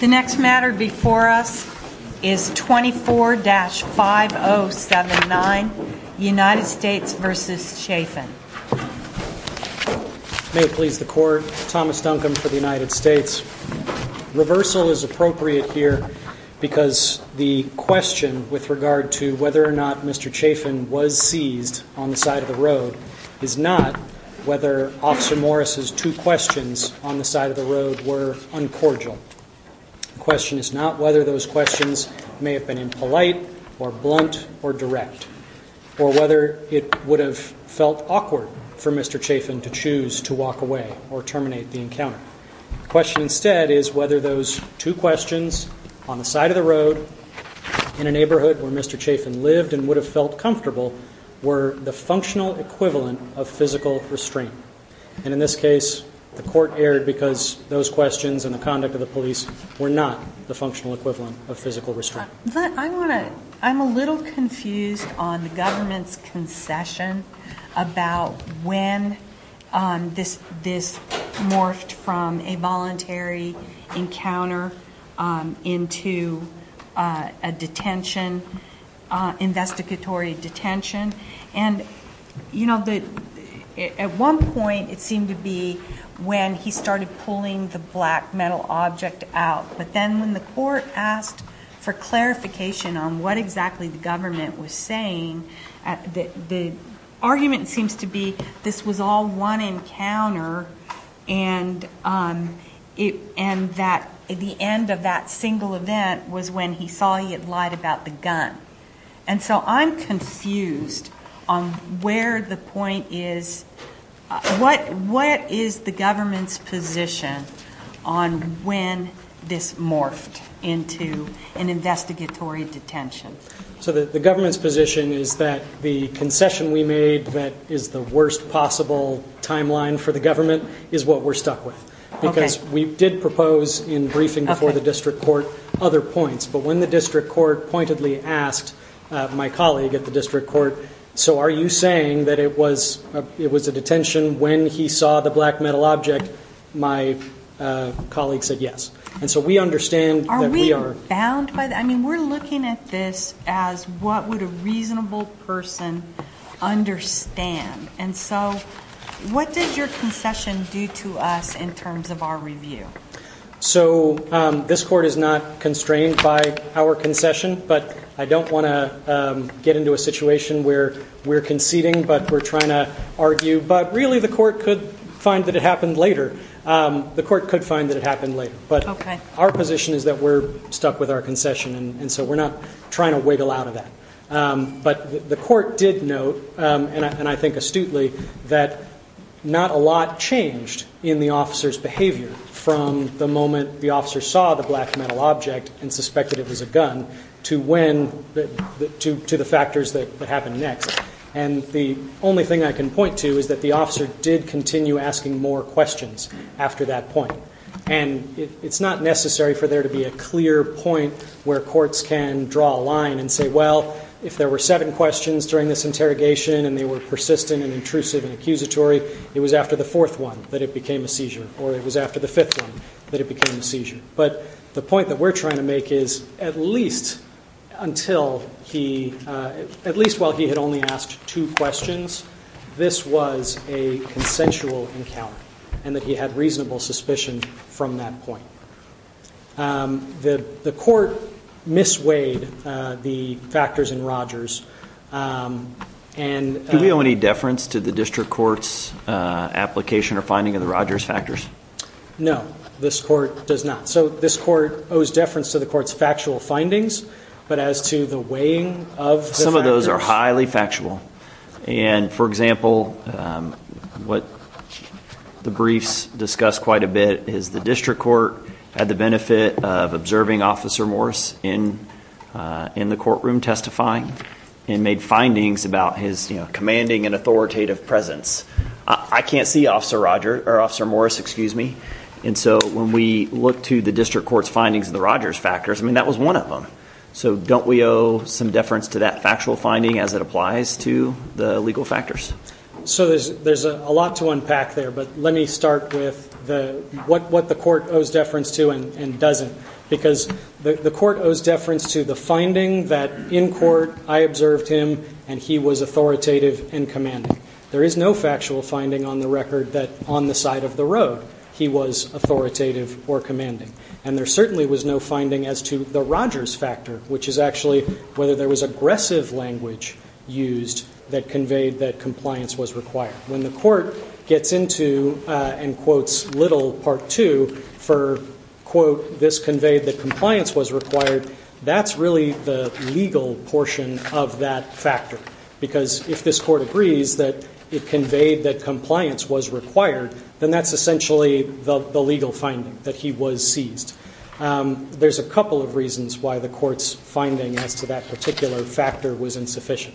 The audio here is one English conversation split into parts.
The next matter before us is 24-5079, United States v. Chafin. May it please the Court, Thomas Duncombe for the United States. Reversal is appropriate here because the question with regard to whether or not Mr. Chafin was seized on the side of the road is not whether Officer Morris's two questions on the side of the road were uncordial. The question is not whether those questions may have been impolite or blunt or direct or whether it would have felt awkward for Mr. Chafin to choose to walk away or terminate the encounter. The question instead is whether those two questions on the side of the road in a neighborhood where Mr. Chafin lived and would have felt comfortable were the functional equivalent of physical restraint. And in this case, the Court erred because those questions and the conduct of the police were not the functional equivalent of physical restraint. I'm a little confused on the government's concession about when this morphed from a voluntary encounter into a detention, investigatory detention. And, you know, at one point it seemed to be when he started pulling the black metal object out. But then when the Court asked for clarification on what exactly the government was saying, the argument seems to be this was all one encounter and that the end of that single event was when he saw he had lied about the gun. And so I'm confused on where the point is. What is the government's position on when this morphed into an investigatory detention? So the government's position is that the concession we made that is the worst possible timeline for the government is what we're stuck with. Okay. Because we did propose in briefing before the district court other points. But when the district court pointedly asked my colleague at the district court, so are you saying that it was a detention when he saw the black metal object, my colleague said yes. And so we understand that we are. I mean, we're looking at this as what would a reasonable person understand. And so what did your concession do to us in terms of our review? So this court is not constrained by our concession, but I don't want to get into a situation where we're conceding but we're trying to argue. But really the court could find that it happened later. The court could find that it happened later. But our position is that we're stuck with our concession, and so we're not trying to wiggle out of that. But the court did note, and I think astutely, that not a lot changed in the officer's behavior from the moment the officer saw the black metal object and suspected it was a gun to the factors that happened next. And the only thing I can point to is that the officer did continue asking more questions after that point. And it's not necessary for there to be a clear point where courts can draw a line and say, well, if there were seven questions during this interrogation and they were persistent and intrusive and accusatory, it was after the fourth one that it became a seizure, or it was after the fifth one that it became a seizure. But the point that we're trying to make is at least while he had only asked two questions, this was a consensual encounter and that he had reasonable suspicion from that point. The court misweighed the factors in Rogers. Do we owe any deference to the district court's application or finding of the Rogers factors? No, this court does not. So this court owes deference to the court's factual findings, but as to the weighing of the factors. The factors are highly factual. And, for example, what the briefs discuss quite a bit is the district court had the benefit of observing Officer Morris in the courtroom testifying and made findings about his commanding and authoritative presence. I can't see Officer Morris, and so when we look to the district court's findings of the Rogers factors, that was one of them. So don't we owe some deference to that factual finding as it applies to the legal factors? So there's a lot to unpack there, but let me start with what the court owes deference to and doesn't. Because the court owes deference to the finding that in court I observed him and he was authoritative and commanding. There is no factual finding on the record that on the side of the road he was authoritative or commanding. And there certainly was no finding as to the Rogers factor, which is actually whether there was aggressive language used that conveyed that compliance was required. When the court gets into and quotes Little Part 2 for, quote, this conveyed that compliance was required, that's really the legal portion of that factor. Because if this court agrees that it conveyed that compliance was required, then that's essentially the legal finding, that he was seized. There's a couple of reasons why the court's finding as to that particular factor was insufficient.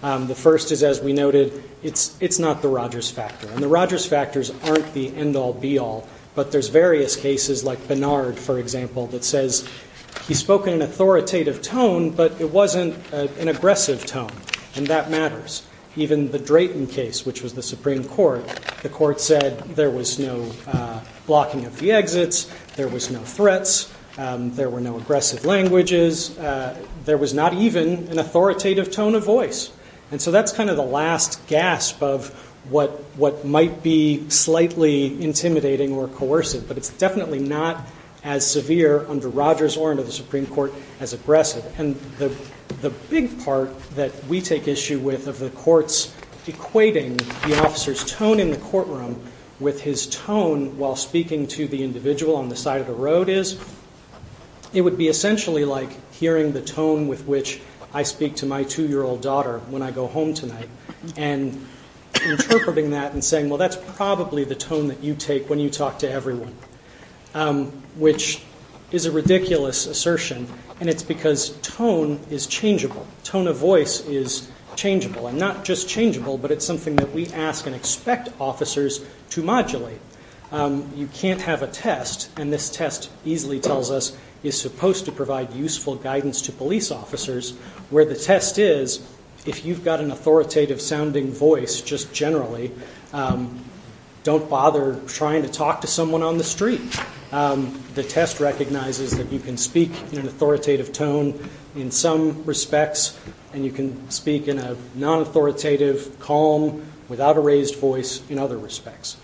The first is, as we noted, it's not the Rogers factor. And the Rogers factors aren't the end-all, be-all. But there's various cases, like Bernard, for example, that says he spoke in an authoritative tone, but it wasn't an aggressive tone. And that matters. Even the Drayton case, which was the Supreme Court, the court said there was no blocking of the exits, there was no threats, there were no aggressive languages. There was not even an authoritative tone of voice. And so that's kind of the last gasp of what might be slightly intimidating or coercive. But it's definitely not as severe under Rogers or under the Supreme Court as aggressive. And the big part that we take issue with of the courts equating the officer's tone in the courtroom with his tone while speaking to the individual on the side of the road is, it would be essentially like hearing the tone with which I speak to my 2-year-old daughter when I go home tonight, and interpreting that and saying, well, that's probably the tone that you take when you talk to everyone, which is a ridiculous assertion. And it's because tone is changeable. Tone of voice is changeable. And not just changeable, but it's something that we ask and expect officers to modulate. You can't have a test, and this test easily tells us it's supposed to provide useful guidance to police officers, where the test is, if you've got an authoritative-sounding voice just generally, don't bother trying to talk to someone on the street. The test recognizes that you can speak in an authoritative tone in some respects, and you can speak in a non-authoritative, calm, without a raised voice in other respects.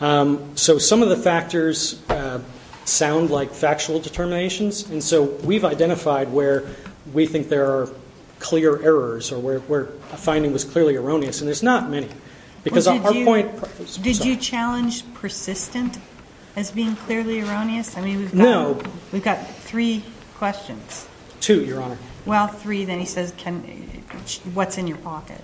So some of the factors sound like factual determinations, and so we've identified where we think there are clear errors or where a finding was clearly erroneous, and there's not many. Did you challenge persistent as being clearly erroneous? No. We've got three questions. Two, Your Honor. Well, three. Then he says, what's in your pocket?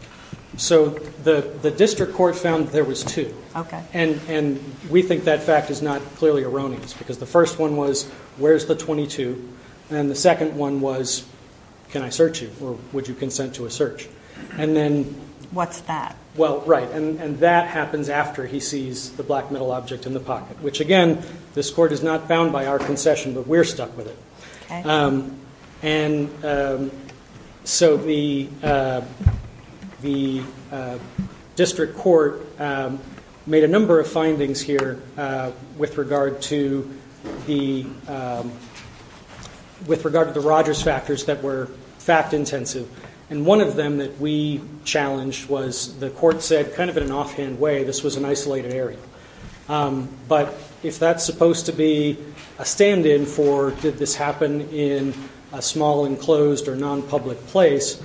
So the district court found there was two. Okay. And we think that fact is not clearly erroneous because the first one was, where's the 22? And the second one was, can I search you, or would you consent to a search? What's that? Well, right, and that happens after he sees the black metal object in the pocket, which, again, this court is not bound by our concession, but we're stuck with it. And so the district court made a number of findings here with regard to the Rogers factors that were fact-intensive, and one of them that we challenged was the court said, kind of in an offhand way, this was an isolated area. But if that's supposed to be a stand-in for did this happen in a small, enclosed, or nonpublic place,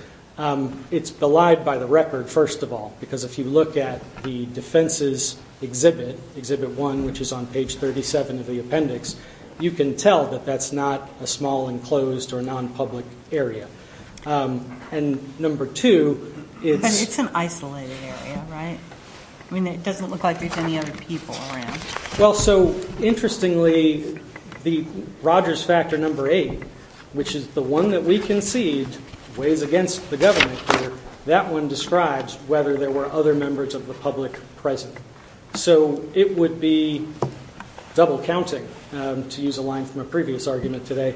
it's belied by the record, first of all, because if you look at the defenses exhibit, Exhibit 1, which is on page 37 of the appendix, you can tell that that's not a small, enclosed, or nonpublic area. And number two is... But it's an isolated area, right? I mean, it doesn't look like there's any other people around. Well, so interestingly, the Rogers factor number eight, which is the one that we concede weighs against the government here, that one describes whether there were other members of the public present. So it would be double-counting, to use a line from a previous argument today,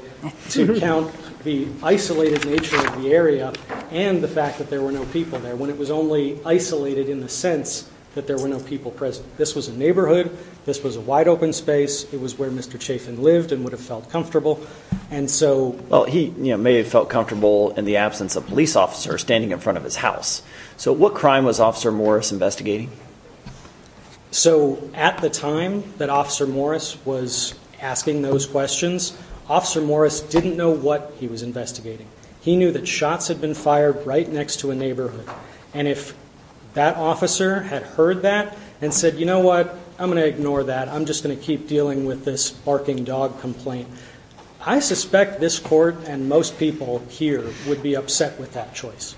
to count the isolated nature of the area and the fact that there were no people there, when it was only isolated in the sense that there were no people present. This was a neighborhood. This was a wide-open space. It was where Mr. Chafin lived and would have felt comfortable. And so... Well, he may have felt comfortable in the absence of a police officer standing in front of his house. So what crime was Officer Morris investigating? So at the time that Officer Morris was asking those questions, Officer Morris didn't know what he was investigating. He knew that shots had been fired right next to a neighborhood. And if that officer had heard that and said, you know what, I'm going to ignore that. I'm just going to keep dealing with this barking dog complaint, I suspect this court and most people here would be upset with that choice.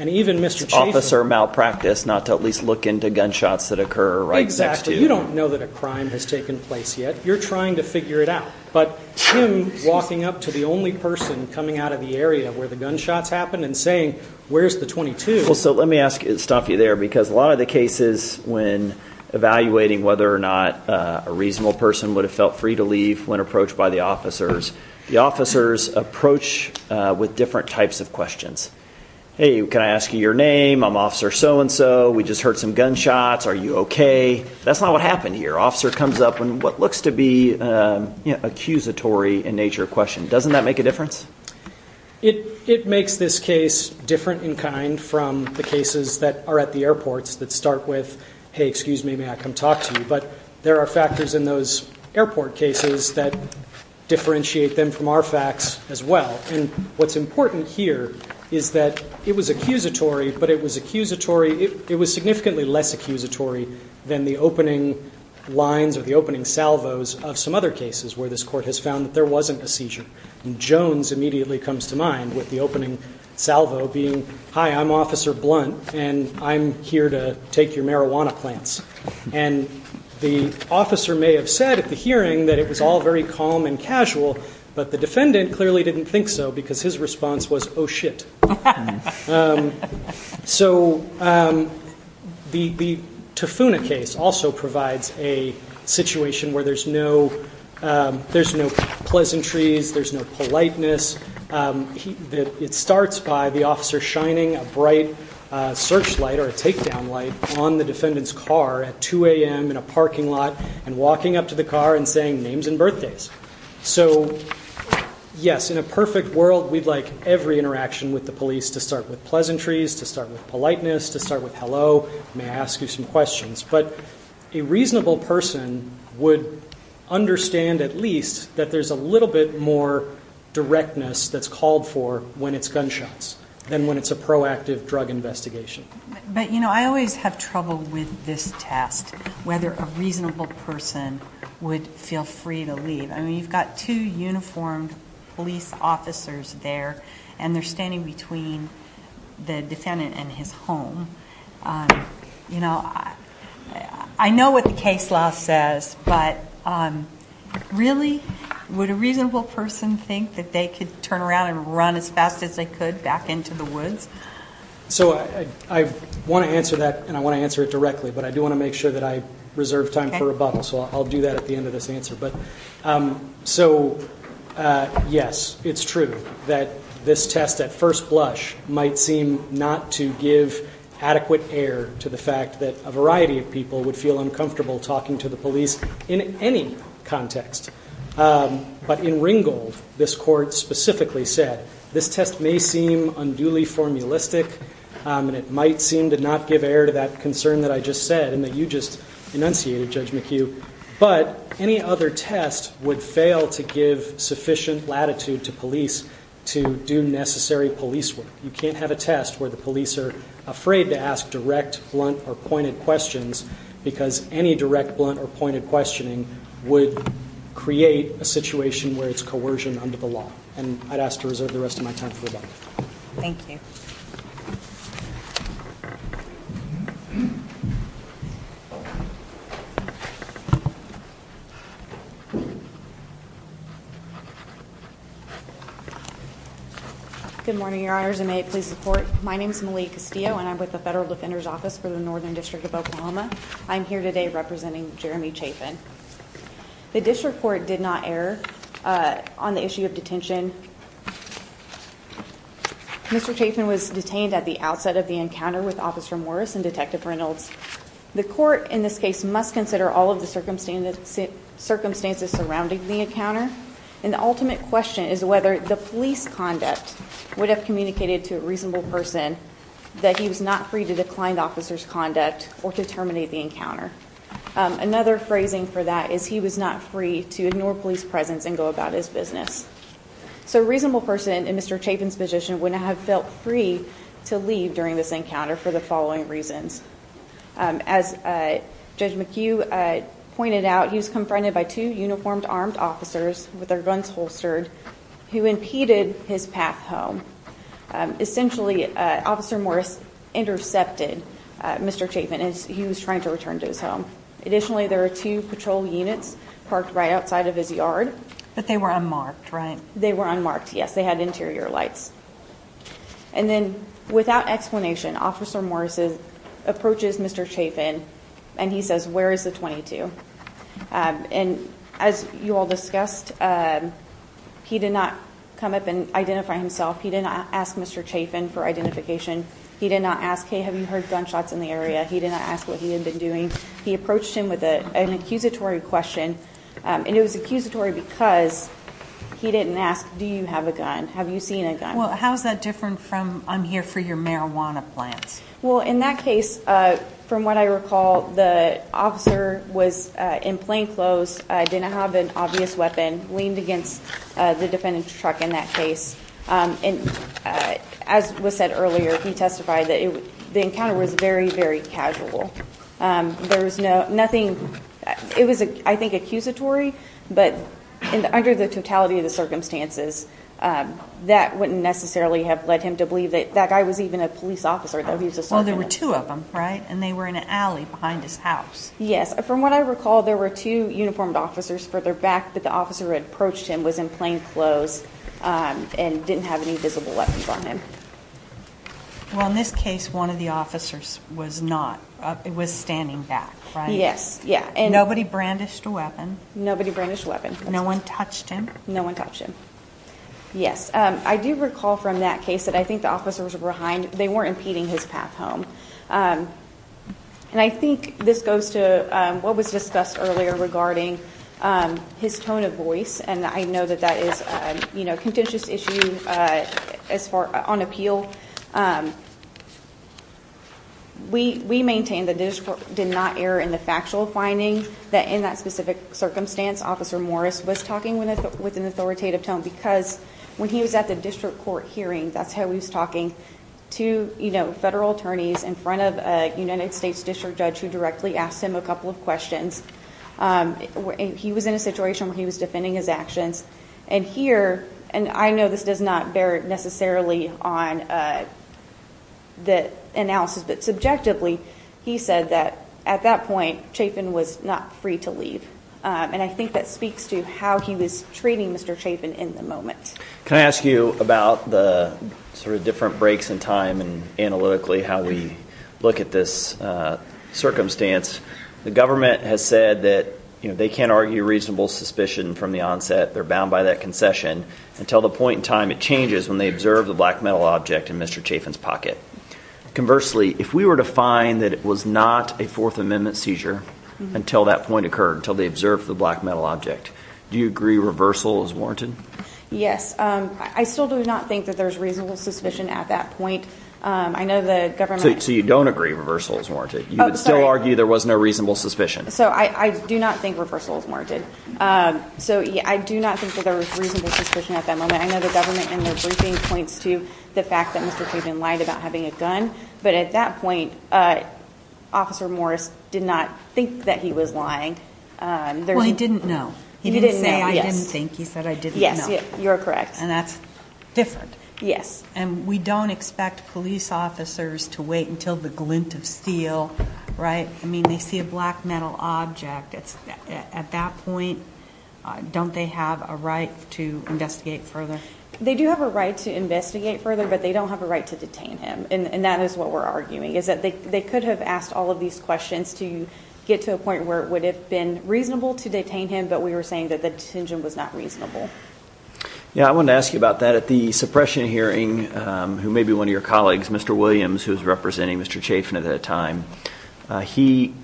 And even Mr. Chafin... Officer malpracticed not to at least look into gunshots that occur right next to him. You don't know that a crime has taken place yet. You're trying to figure it out. But him walking up to the only person coming out of the area where the gunshots happened and saying, where's the 22? Well, so let me stop you there, because a lot of the cases when evaluating whether or not a reasonable person would have felt free to leave when approached by the officers, the officers approach with different types of questions. Hey, can I ask you your name? I'm Officer so and so. We just heard some gunshots. Are you OK? That's not what happened here. Officer comes up and what looks to be accusatory in nature of question. Doesn't that make a difference? It makes this case different in kind from the cases that are at the airports that start with, hey, excuse me, may I come talk to you? But there are factors in those airport cases that differentiate them from our facts as well. And what's important here is that it was accusatory, but it was accusatory. It was significantly less accusatory than the opening lines of the opening salvos of some other cases where this court has found that there wasn't a seizure. Jones immediately comes to mind with the opening salvo being high. I'm Officer Blunt, and I'm here to take your marijuana plants. And the officer may have said at the hearing that it was all very calm and casual. But the defendant clearly didn't think so because his response was, oh, shit. So the Tafuna case also provides a situation where there's no there's no pleasantries. There's no politeness. It starts by the officer shining a bright searchlight or a takedown light on the defendant's car at 2 a.m. in a parking lot and walking up to the car and saying names and birthdays. So, yes, in a perfect world, we'd like every interaction with the police to start with pleasantries, to start with politeness, to start with hello. May I ask you some questions? But a reasonable person would understand at least that there's a little bit more directness that's called for when it's gunshots than when it's a proactive drug investigation. But, you know, I always have trouble with this test, whether a reasonable person would feel free to leave. I mean, you've got two uniformed police officers there and they're standing between the defendant and his home. You know, I know what the case law says, but really, would a reasonable person think that they could turn around and run as fast as they could back into the woods? So I want to answer that and I want to answer it directly, but I do want to make sure that I reserve time for rebuttal. So I'll do that at the end of this answer. So, yes, it's true that this test at first blush might seem not to give adequate air to the fact that a variety of people would feel uncomfortable talking to the police in any context. But in Ringgold, this court specifically said this test may seem unduly formulistic and it might seem to not give air to that concern that I just said and that you just enunciated, Judge McHugh. But any other test would fail to give sufficient latitude to police to do necessary police work. You can't have a test where the police are afraid to ask direct, blunt, or pointed questions because any direct, blunt, or pointed questioning would create a situation where it's coercion under the law. And I'd ask to reserve the rest of my time for rebuttal. Thank you. Good morning, Your Honors, and may it please the court. My name is Malia Castillo and I'm with the Federal Defender's Office for the Northern District of Oklahoma. I'm here today representing Jeremy Chapin. The district court did not err on the issue of detention. Mr. Chapin was detained at the outset of the encounter with Officer Morris and Detective Reynolds. The court in this case must consider all of the circumstances surrounding the encounter. And the ultimate question is whether the police conduct would have communicated to a reasonable person that he was not free to decline the officer's conduct or to terminate the encounter. Another phrasing for that is he was not free to ignore police presence and go about his business. So a reasonable person in Mr. Chapin's position wouldn't have felt free to leave during this encounter for the following reasons. As Judge McHugh pointed out, he was confronted by two uniformed armed officers with their guns holstered who impeded his path home. Essentially, Officer Morris intercepted Mr. Chapin as he was trying to return to his home. Additionally, there are two patrol units parked right outside of his yard. But they were unmarked, right? They were unmarked, yes. They had interior lights. And then, without explanation, Officer Morris approaches Mr. Chapin and he says, where is the 22? And as you all discussed, he did not come up and identify himself. He did not ask Mr. Chapin for identification. He did not ask, hey, have you heard gunshots in the area? He did not ask what he had been doing. He approached him with an accusatory question. And it was accusatory because he didn't ask, do you have a gun? Have you seen a gun? Well, how is that different from I'm here for your marijuana plants? Well, in that case, from what I recall, the officer was in plain clothes, didn't have an obvious weapon, leaned against the defendant's truck in that case. And as was said earlier, he testified that the encounter was very, very casual. There was nothing. It was, I think, accusatory. But under the totality of the circumstances, that wouldn't necessarily have led him to believe that that guy was even a police officer, though he was assaulted. Well, there were two of them, right? And they were in an alley behind his house. Yes. From what I recall, there were two uniformed officers further back, but the officer who had approached him was in plain clothes and didn't have any visible weapons on him. Well, in this case, one of the officers was not, was standing back, right? Yes, yeah. Nobody brandished a weapon? Nobody brandished a weapon. No one touched him? No one touched him. Yes. I do recall from that case that I think the officers were behind. They weren't impeding his path home. And I think this goes to what was discussed earlier regarding his tone of voice, and I know that that is a contentious issue on appeal. We maintain that this did not err in the factual finding that in that specific circumstance, Officer Morris was talking with an authoritative tone because when he was at the district court hearing, that's how he was talking to federal attorneys in front of a United States district judge who directly asked him a couple of questions. He was in a situation where he was defending his actions. And here, and I know this does not bear necessarily on the analysis, but subjectively he said that at that point Chafin was not free to leave. And I think that speaks to how he was treating Mr. Chafin in the moment. Can I ask you about the sort of different breaks in time and analytically how we look at this circumstance? The government has said that they can't argue reasonable suspicion from the onset. They're bound by that concession until the point in time it changes when they observe the black metal object in Mr. Chafin's pocket. Conversely, if we were to find that it was not a Fourth Amendment seizure until that point occurred, until they observed the black metal object, do you agree reversal is warranted? Yes. I still do not think that there's reasonable suspicion at that point. I know the government— So you don't agree reversal is warranted? You would still argue there was no reasonable suspicion? So I do not think reversal is warranted. So I do not think that there was reasonable suspicion at that moment. I know the government in their briefing points to the fact that Mr. Chafin lied about having a gun, but at that point Officer Morris did not think that he was lying. Well, he didn't know. He didn't say, I didn't think. He said, I didn't know. Yes, you're correct. And that's different. Yes. And we don't expect police officers to wait until the glint of steel, right? I mean, they see a black metal object. At that point, don't they have a right to investigate further? They do have a right to investigate further, but they don't have a right to detain him, and that is what we're arguing, is that they could have asked all of these questions to get to a point where it would have been reasonable to detain him, but we were saying that the detention was not reasonable. Yeah, I wanted to ask you about that. At the suppression hearing, who may be one of your colleagues, Mr. Williams, who was representing Mr. Chafin at that time, he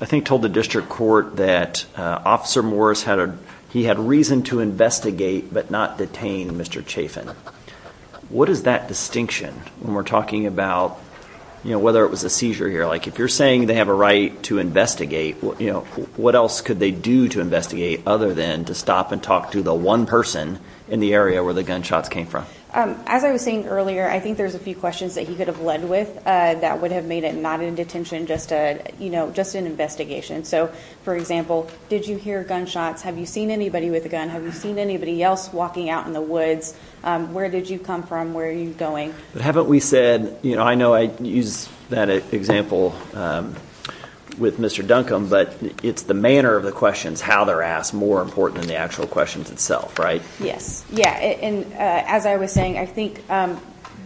I think told the district court that Officer Morris had a— he had reason to investigate but not detain Mr. Chafin. What is that distinction when we're talking about whether it was a seizure here? Like if you're saying they have a right to investigate, what else could they do to investigate other than to stop and talk to the one person in the area where the gunshots came from? As I was saying earlier, I think there's a few questions that he could have led with that would have made it not a detention, just an investigation. So, for example, did you hear gunshots? Have you seen anybody with a gun? Have you seen anybody else walking out in the woods? Where did you come from? Where are you going? But haven't we said—you know, I know I used that example with Mr. Duncombe, but it's the manner of the questions, how they're asked, more important than the actual questions itself, right? Yes, yeah. And as I was saying, I think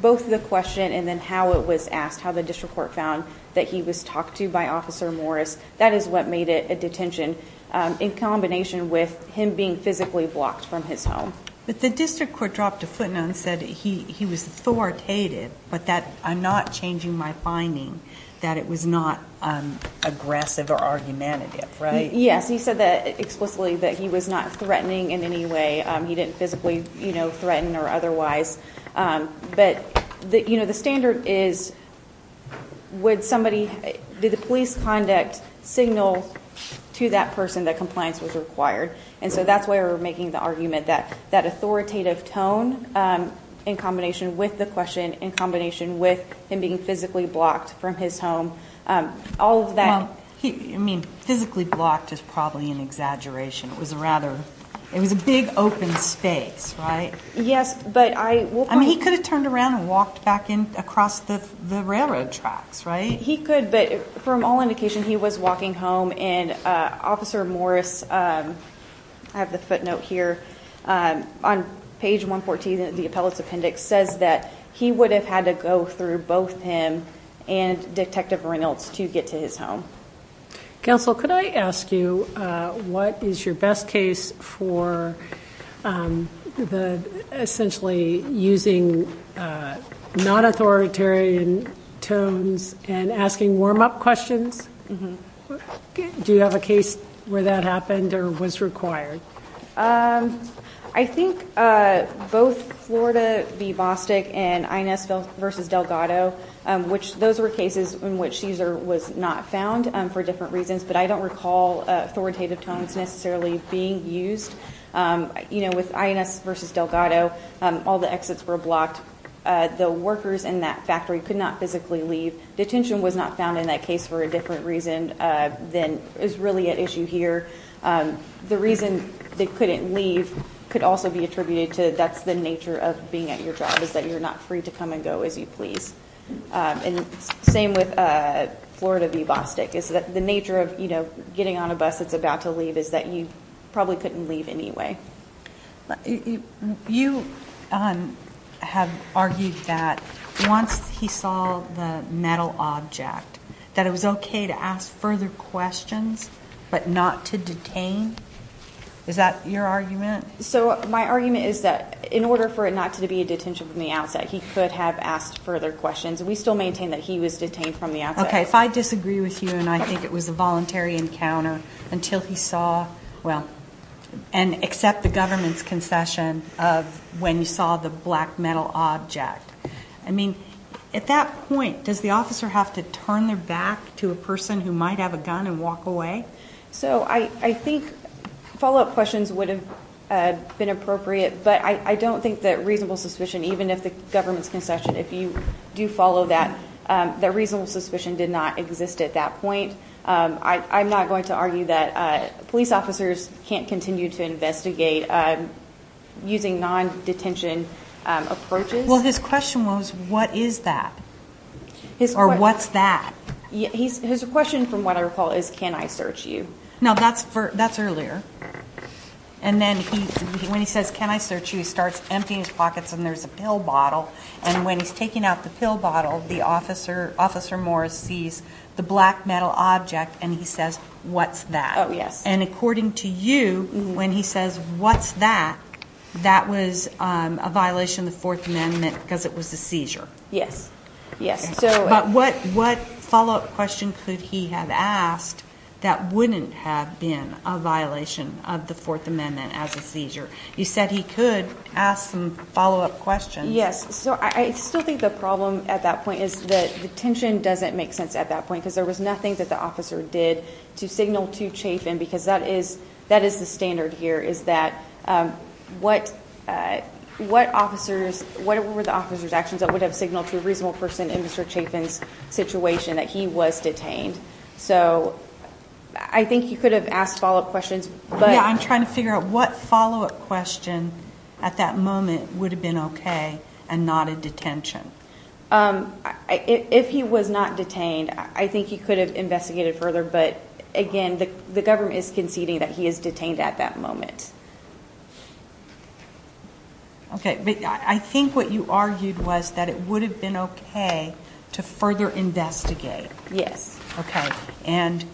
both the question and then how it was asked, how the district court found that he was talked to by Officer Morris, that is what made it a detention. In combination with him being physically blocked from his home. But the district court dropped a footnote and said he was authoritative, but that I'm not changing my finding that it was not aggressive or argumentative, right? Yes, he said that explicitly that he was not threatening in any way. He didn't physically, you know, threaten or otherwise. But, you know, the standard is would somebody—did the police conduct signal to that person that compliance was required? And so that's why we're making the argument that that authoritative tone in combination with the question, in combination with him being physically blocked from his home, all of that— Well, I mean, physically blocked is probably an exaggeration. It was a rather—it was a big open space, right? Yes, but I— I mean, he could have turned around and walked back in across the railroad tracks, right? He could, but from all indication, he was walking home. And Officer Morris—I have the footnote here on page 114 of the appellate's appendix— says that he would have had to go through both him and Detective Reynolds to get to his home. Counsel, could I ask you what is your best case for essentially using non-authoritarian tones and asking warm-up questions? Do you have a case where that happened or was required? I think both Florida v. Bostick and INS v. Delgado, which those were cases in which Caesar was not found for different reasons, but I don't recall authoritative tones necessarily being used. You know, with INS v. Delgado, all the exits were blocked. The workers in that factory could not physically leave. Detention was not found in that case for a different reason than is really at issue here. The reason they couldn't leave could also be attributed to that's the nature of being at your job, is that you're not free to come and go as you please. And same with Florida v. Bostick. The nature of, you know, getting on a bus that's about to leave is that you probably couldn't leave anyway. You have argued that once he saw the metal object, that it was okay to ask further questions but not to detain. Is that your argument? So my argument is that in order for it not to be a detention from the outset, he could have asked further questions. We still maintain that he was detained from the outset. Okay, if I disagree with you and I think it was a voluntary encounter until he saw, well, and except the government's concession of when you saw the black metal object. I mean, at that point, does the officer have to turn their back to a person who might have a gun and walk away? So I think follow-up questions would have been appropriate, but I don't think that reasonable suspicion, even if the government's concession, if you do follow that, that reasonable suspicion did not exist at that point. I'm not going to argue that police officers can't continue to investigate using non-detention approaches. Well, his question was, what is that? Or what's that? His question, from what I recall, is, can I search you? No, that's earlier. And then when he says, can I search you, he starts emptying his pockets and there's a pill bottle. And when he's taking out the pill bottle, the officer, Officer Morris, sees the black metal object and he says, what's that? Oh, yes. And according to you, when he says, what's that, that was a violation of the Fourth Amendment because it was a seizure. Yes, yes. But what follow-up question could he have asked that wouldn't have been a violation of the Fourth Amendment as a seizure? You said he could ask some follow-up questions. Yes. So I still think the problem at that point is that detention doesn't make sense at that point because there was nothing that the officer did to signal to Chafin because that is the standard here, is that what were the officer's actions that would have signaled to a reasonable person in Mr. Chafin's situation that he was detained? So I think he could have asked follow-up questions. Yeah, I'm trying to figure out what follow-up question at that moment would have been okay and not a detention. If he was not detained, I think he could have investigated further. But, again, the government is conceding that he is detained at that moment. Okay. But I think what you argued was that it would have been okay to further investigate. Yes. Okay. And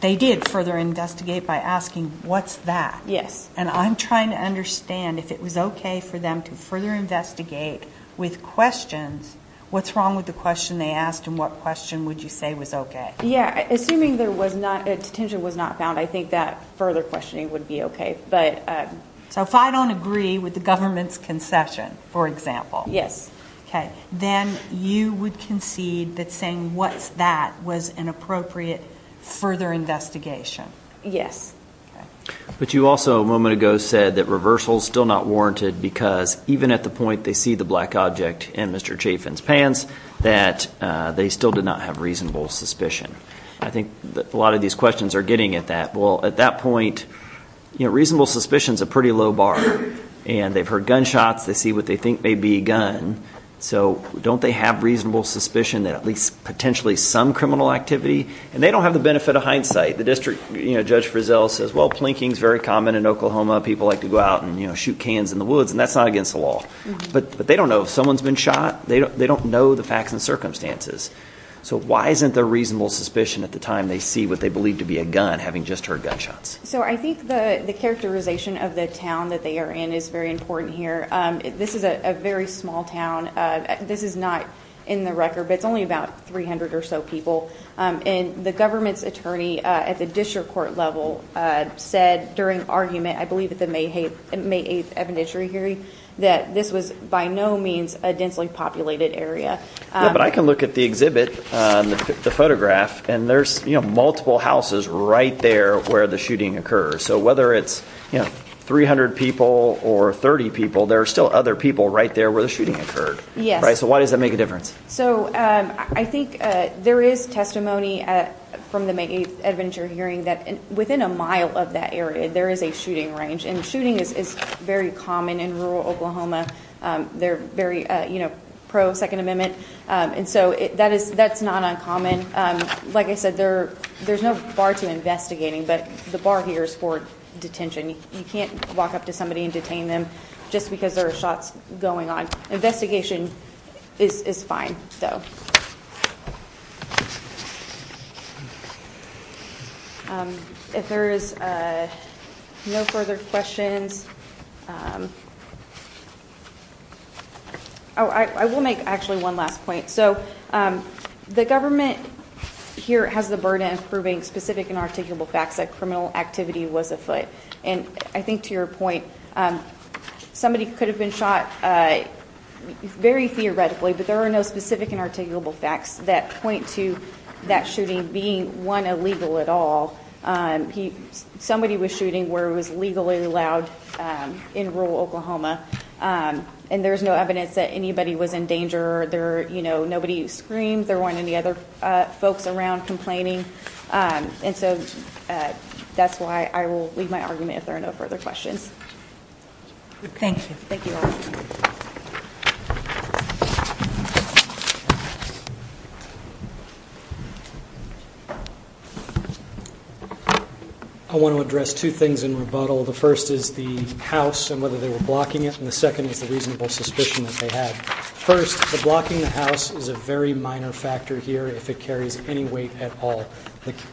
they did further investigate by asking, what's that? Yes. And I'm trying to understand if it was okay for them to further investigate with questions, what's wrong with the question they asked and what question would you say was okay? Yeah, assuming detention was not found, I think that further questioning would be okay. So if I don't agree with the government's concession, for example. Yes. Okay. Then you would concede that saying what's that was an appropriate further investigation. Yes. Okay. But you also a moment ago said that reversal is still not warranted because even at the point they see the black object in Mr. Chafin's pants, that they still did not have reasonable suspicion. I think a lot of these questions are getting at that. Well, at that point, reasonable suspicion is a pretty low bar. And they've heard gunshots. They see what they think may be a gun. So don't they have reasonable suspicion that at least potentially some criminal activity? And they don't have the benefit of hindsight. The district, you know, Judge Frizzell says, well, plinking is very common in Oklahoma. People like to go out and, you know, shoot cans in the woods, and that's not against the law. But they don't know. If someone's been shot, they don't know the facts and circumstances. So why isn't there reasonable suspicion at the time they see what they believe to be a gun, having just heard gunshots? So I think the characterization of the town that they are in is very important here. This is a very small town. This is not in the record, but it's only about 300 or so people. And the government's attorney at the district court level said during argument, I believe at the May 8th evidentiary hearing, that this was by no means a densely populated area. Yeah, but I can look at the exhibit, the photograph, and there's, you know, multiple houses right there where the shooting occurred. So whether it's, you know, 300 people or 30 people, there are still other people right there where the shooting occurred. Yes. So why does that make a difference? So I think there is testimony from the May 8th evidentiary hearing that within a mile of that area, there is a shooting range, and shooting is very common in rural Oklahoma. They're very, you know, pro-Second Amendment. And so that's not uncommon. Like I said, there's no bar to investigating, but the bar here is for detention. You can't walk up to somebody and detain them just because there are shots going on. Investigation is fine, though. If there is no further questions. I will make actually one last point. So the government here has the burden of proving specific and articulable facts that criminal activity was afoot. And I think to your point, somebody could have been shot very theoretically, but there are no specific and articulable facts that point to that shooting being, one, illegal at all. Somebody was shooting where it was legally allowed in rural Oklahoma, and there's no evidence that anybody was in danger. Nobody screamed. There weren't any other folks around complaining. And so that's why I will leave my argument if there are no further questions. Thank you. Thank you all. I want to address two things in rebuttal. The first is the house and whether they were blocking it, and the second is the reasonable suspicion that they had. First, the blocking of the house is a very minor factor here if it carries any weight at all.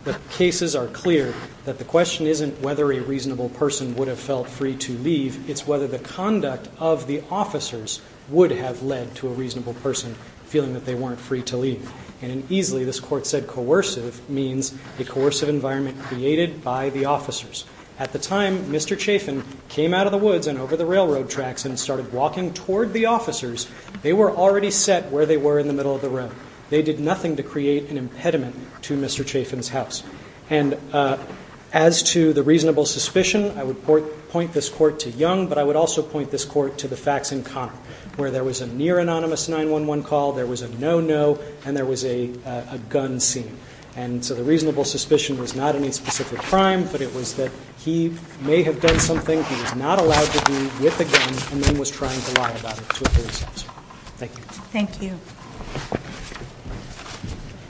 The cases are clear that the question isn't whether a reasonable person would have felt free to leave. It's whether the conduct of the officers would have led to a reasonable person feeling that they weren't free to leave. And easily, this Court said coercive means a coercive environment created by the officers. At the time, Mr. Chafin came out of the woods and over the railroad tracks and started walking toward the officers, they were already set where they were in the middle of the road. They did nothing to create an impediment to Mr. Chafin's house. And as to the reasonable suspicion, I would point this Court to Young, but I would also point this Court to the facts in Connor where there was a near-anonymous 911 call, there was a no-no, and there was a gun scene. And so the reasonable suspicion was not any specific crime, but it was that he may have done something he was not allowed to do with a gun and then was trying to lie about it to a police officer. Thank you. Thank you.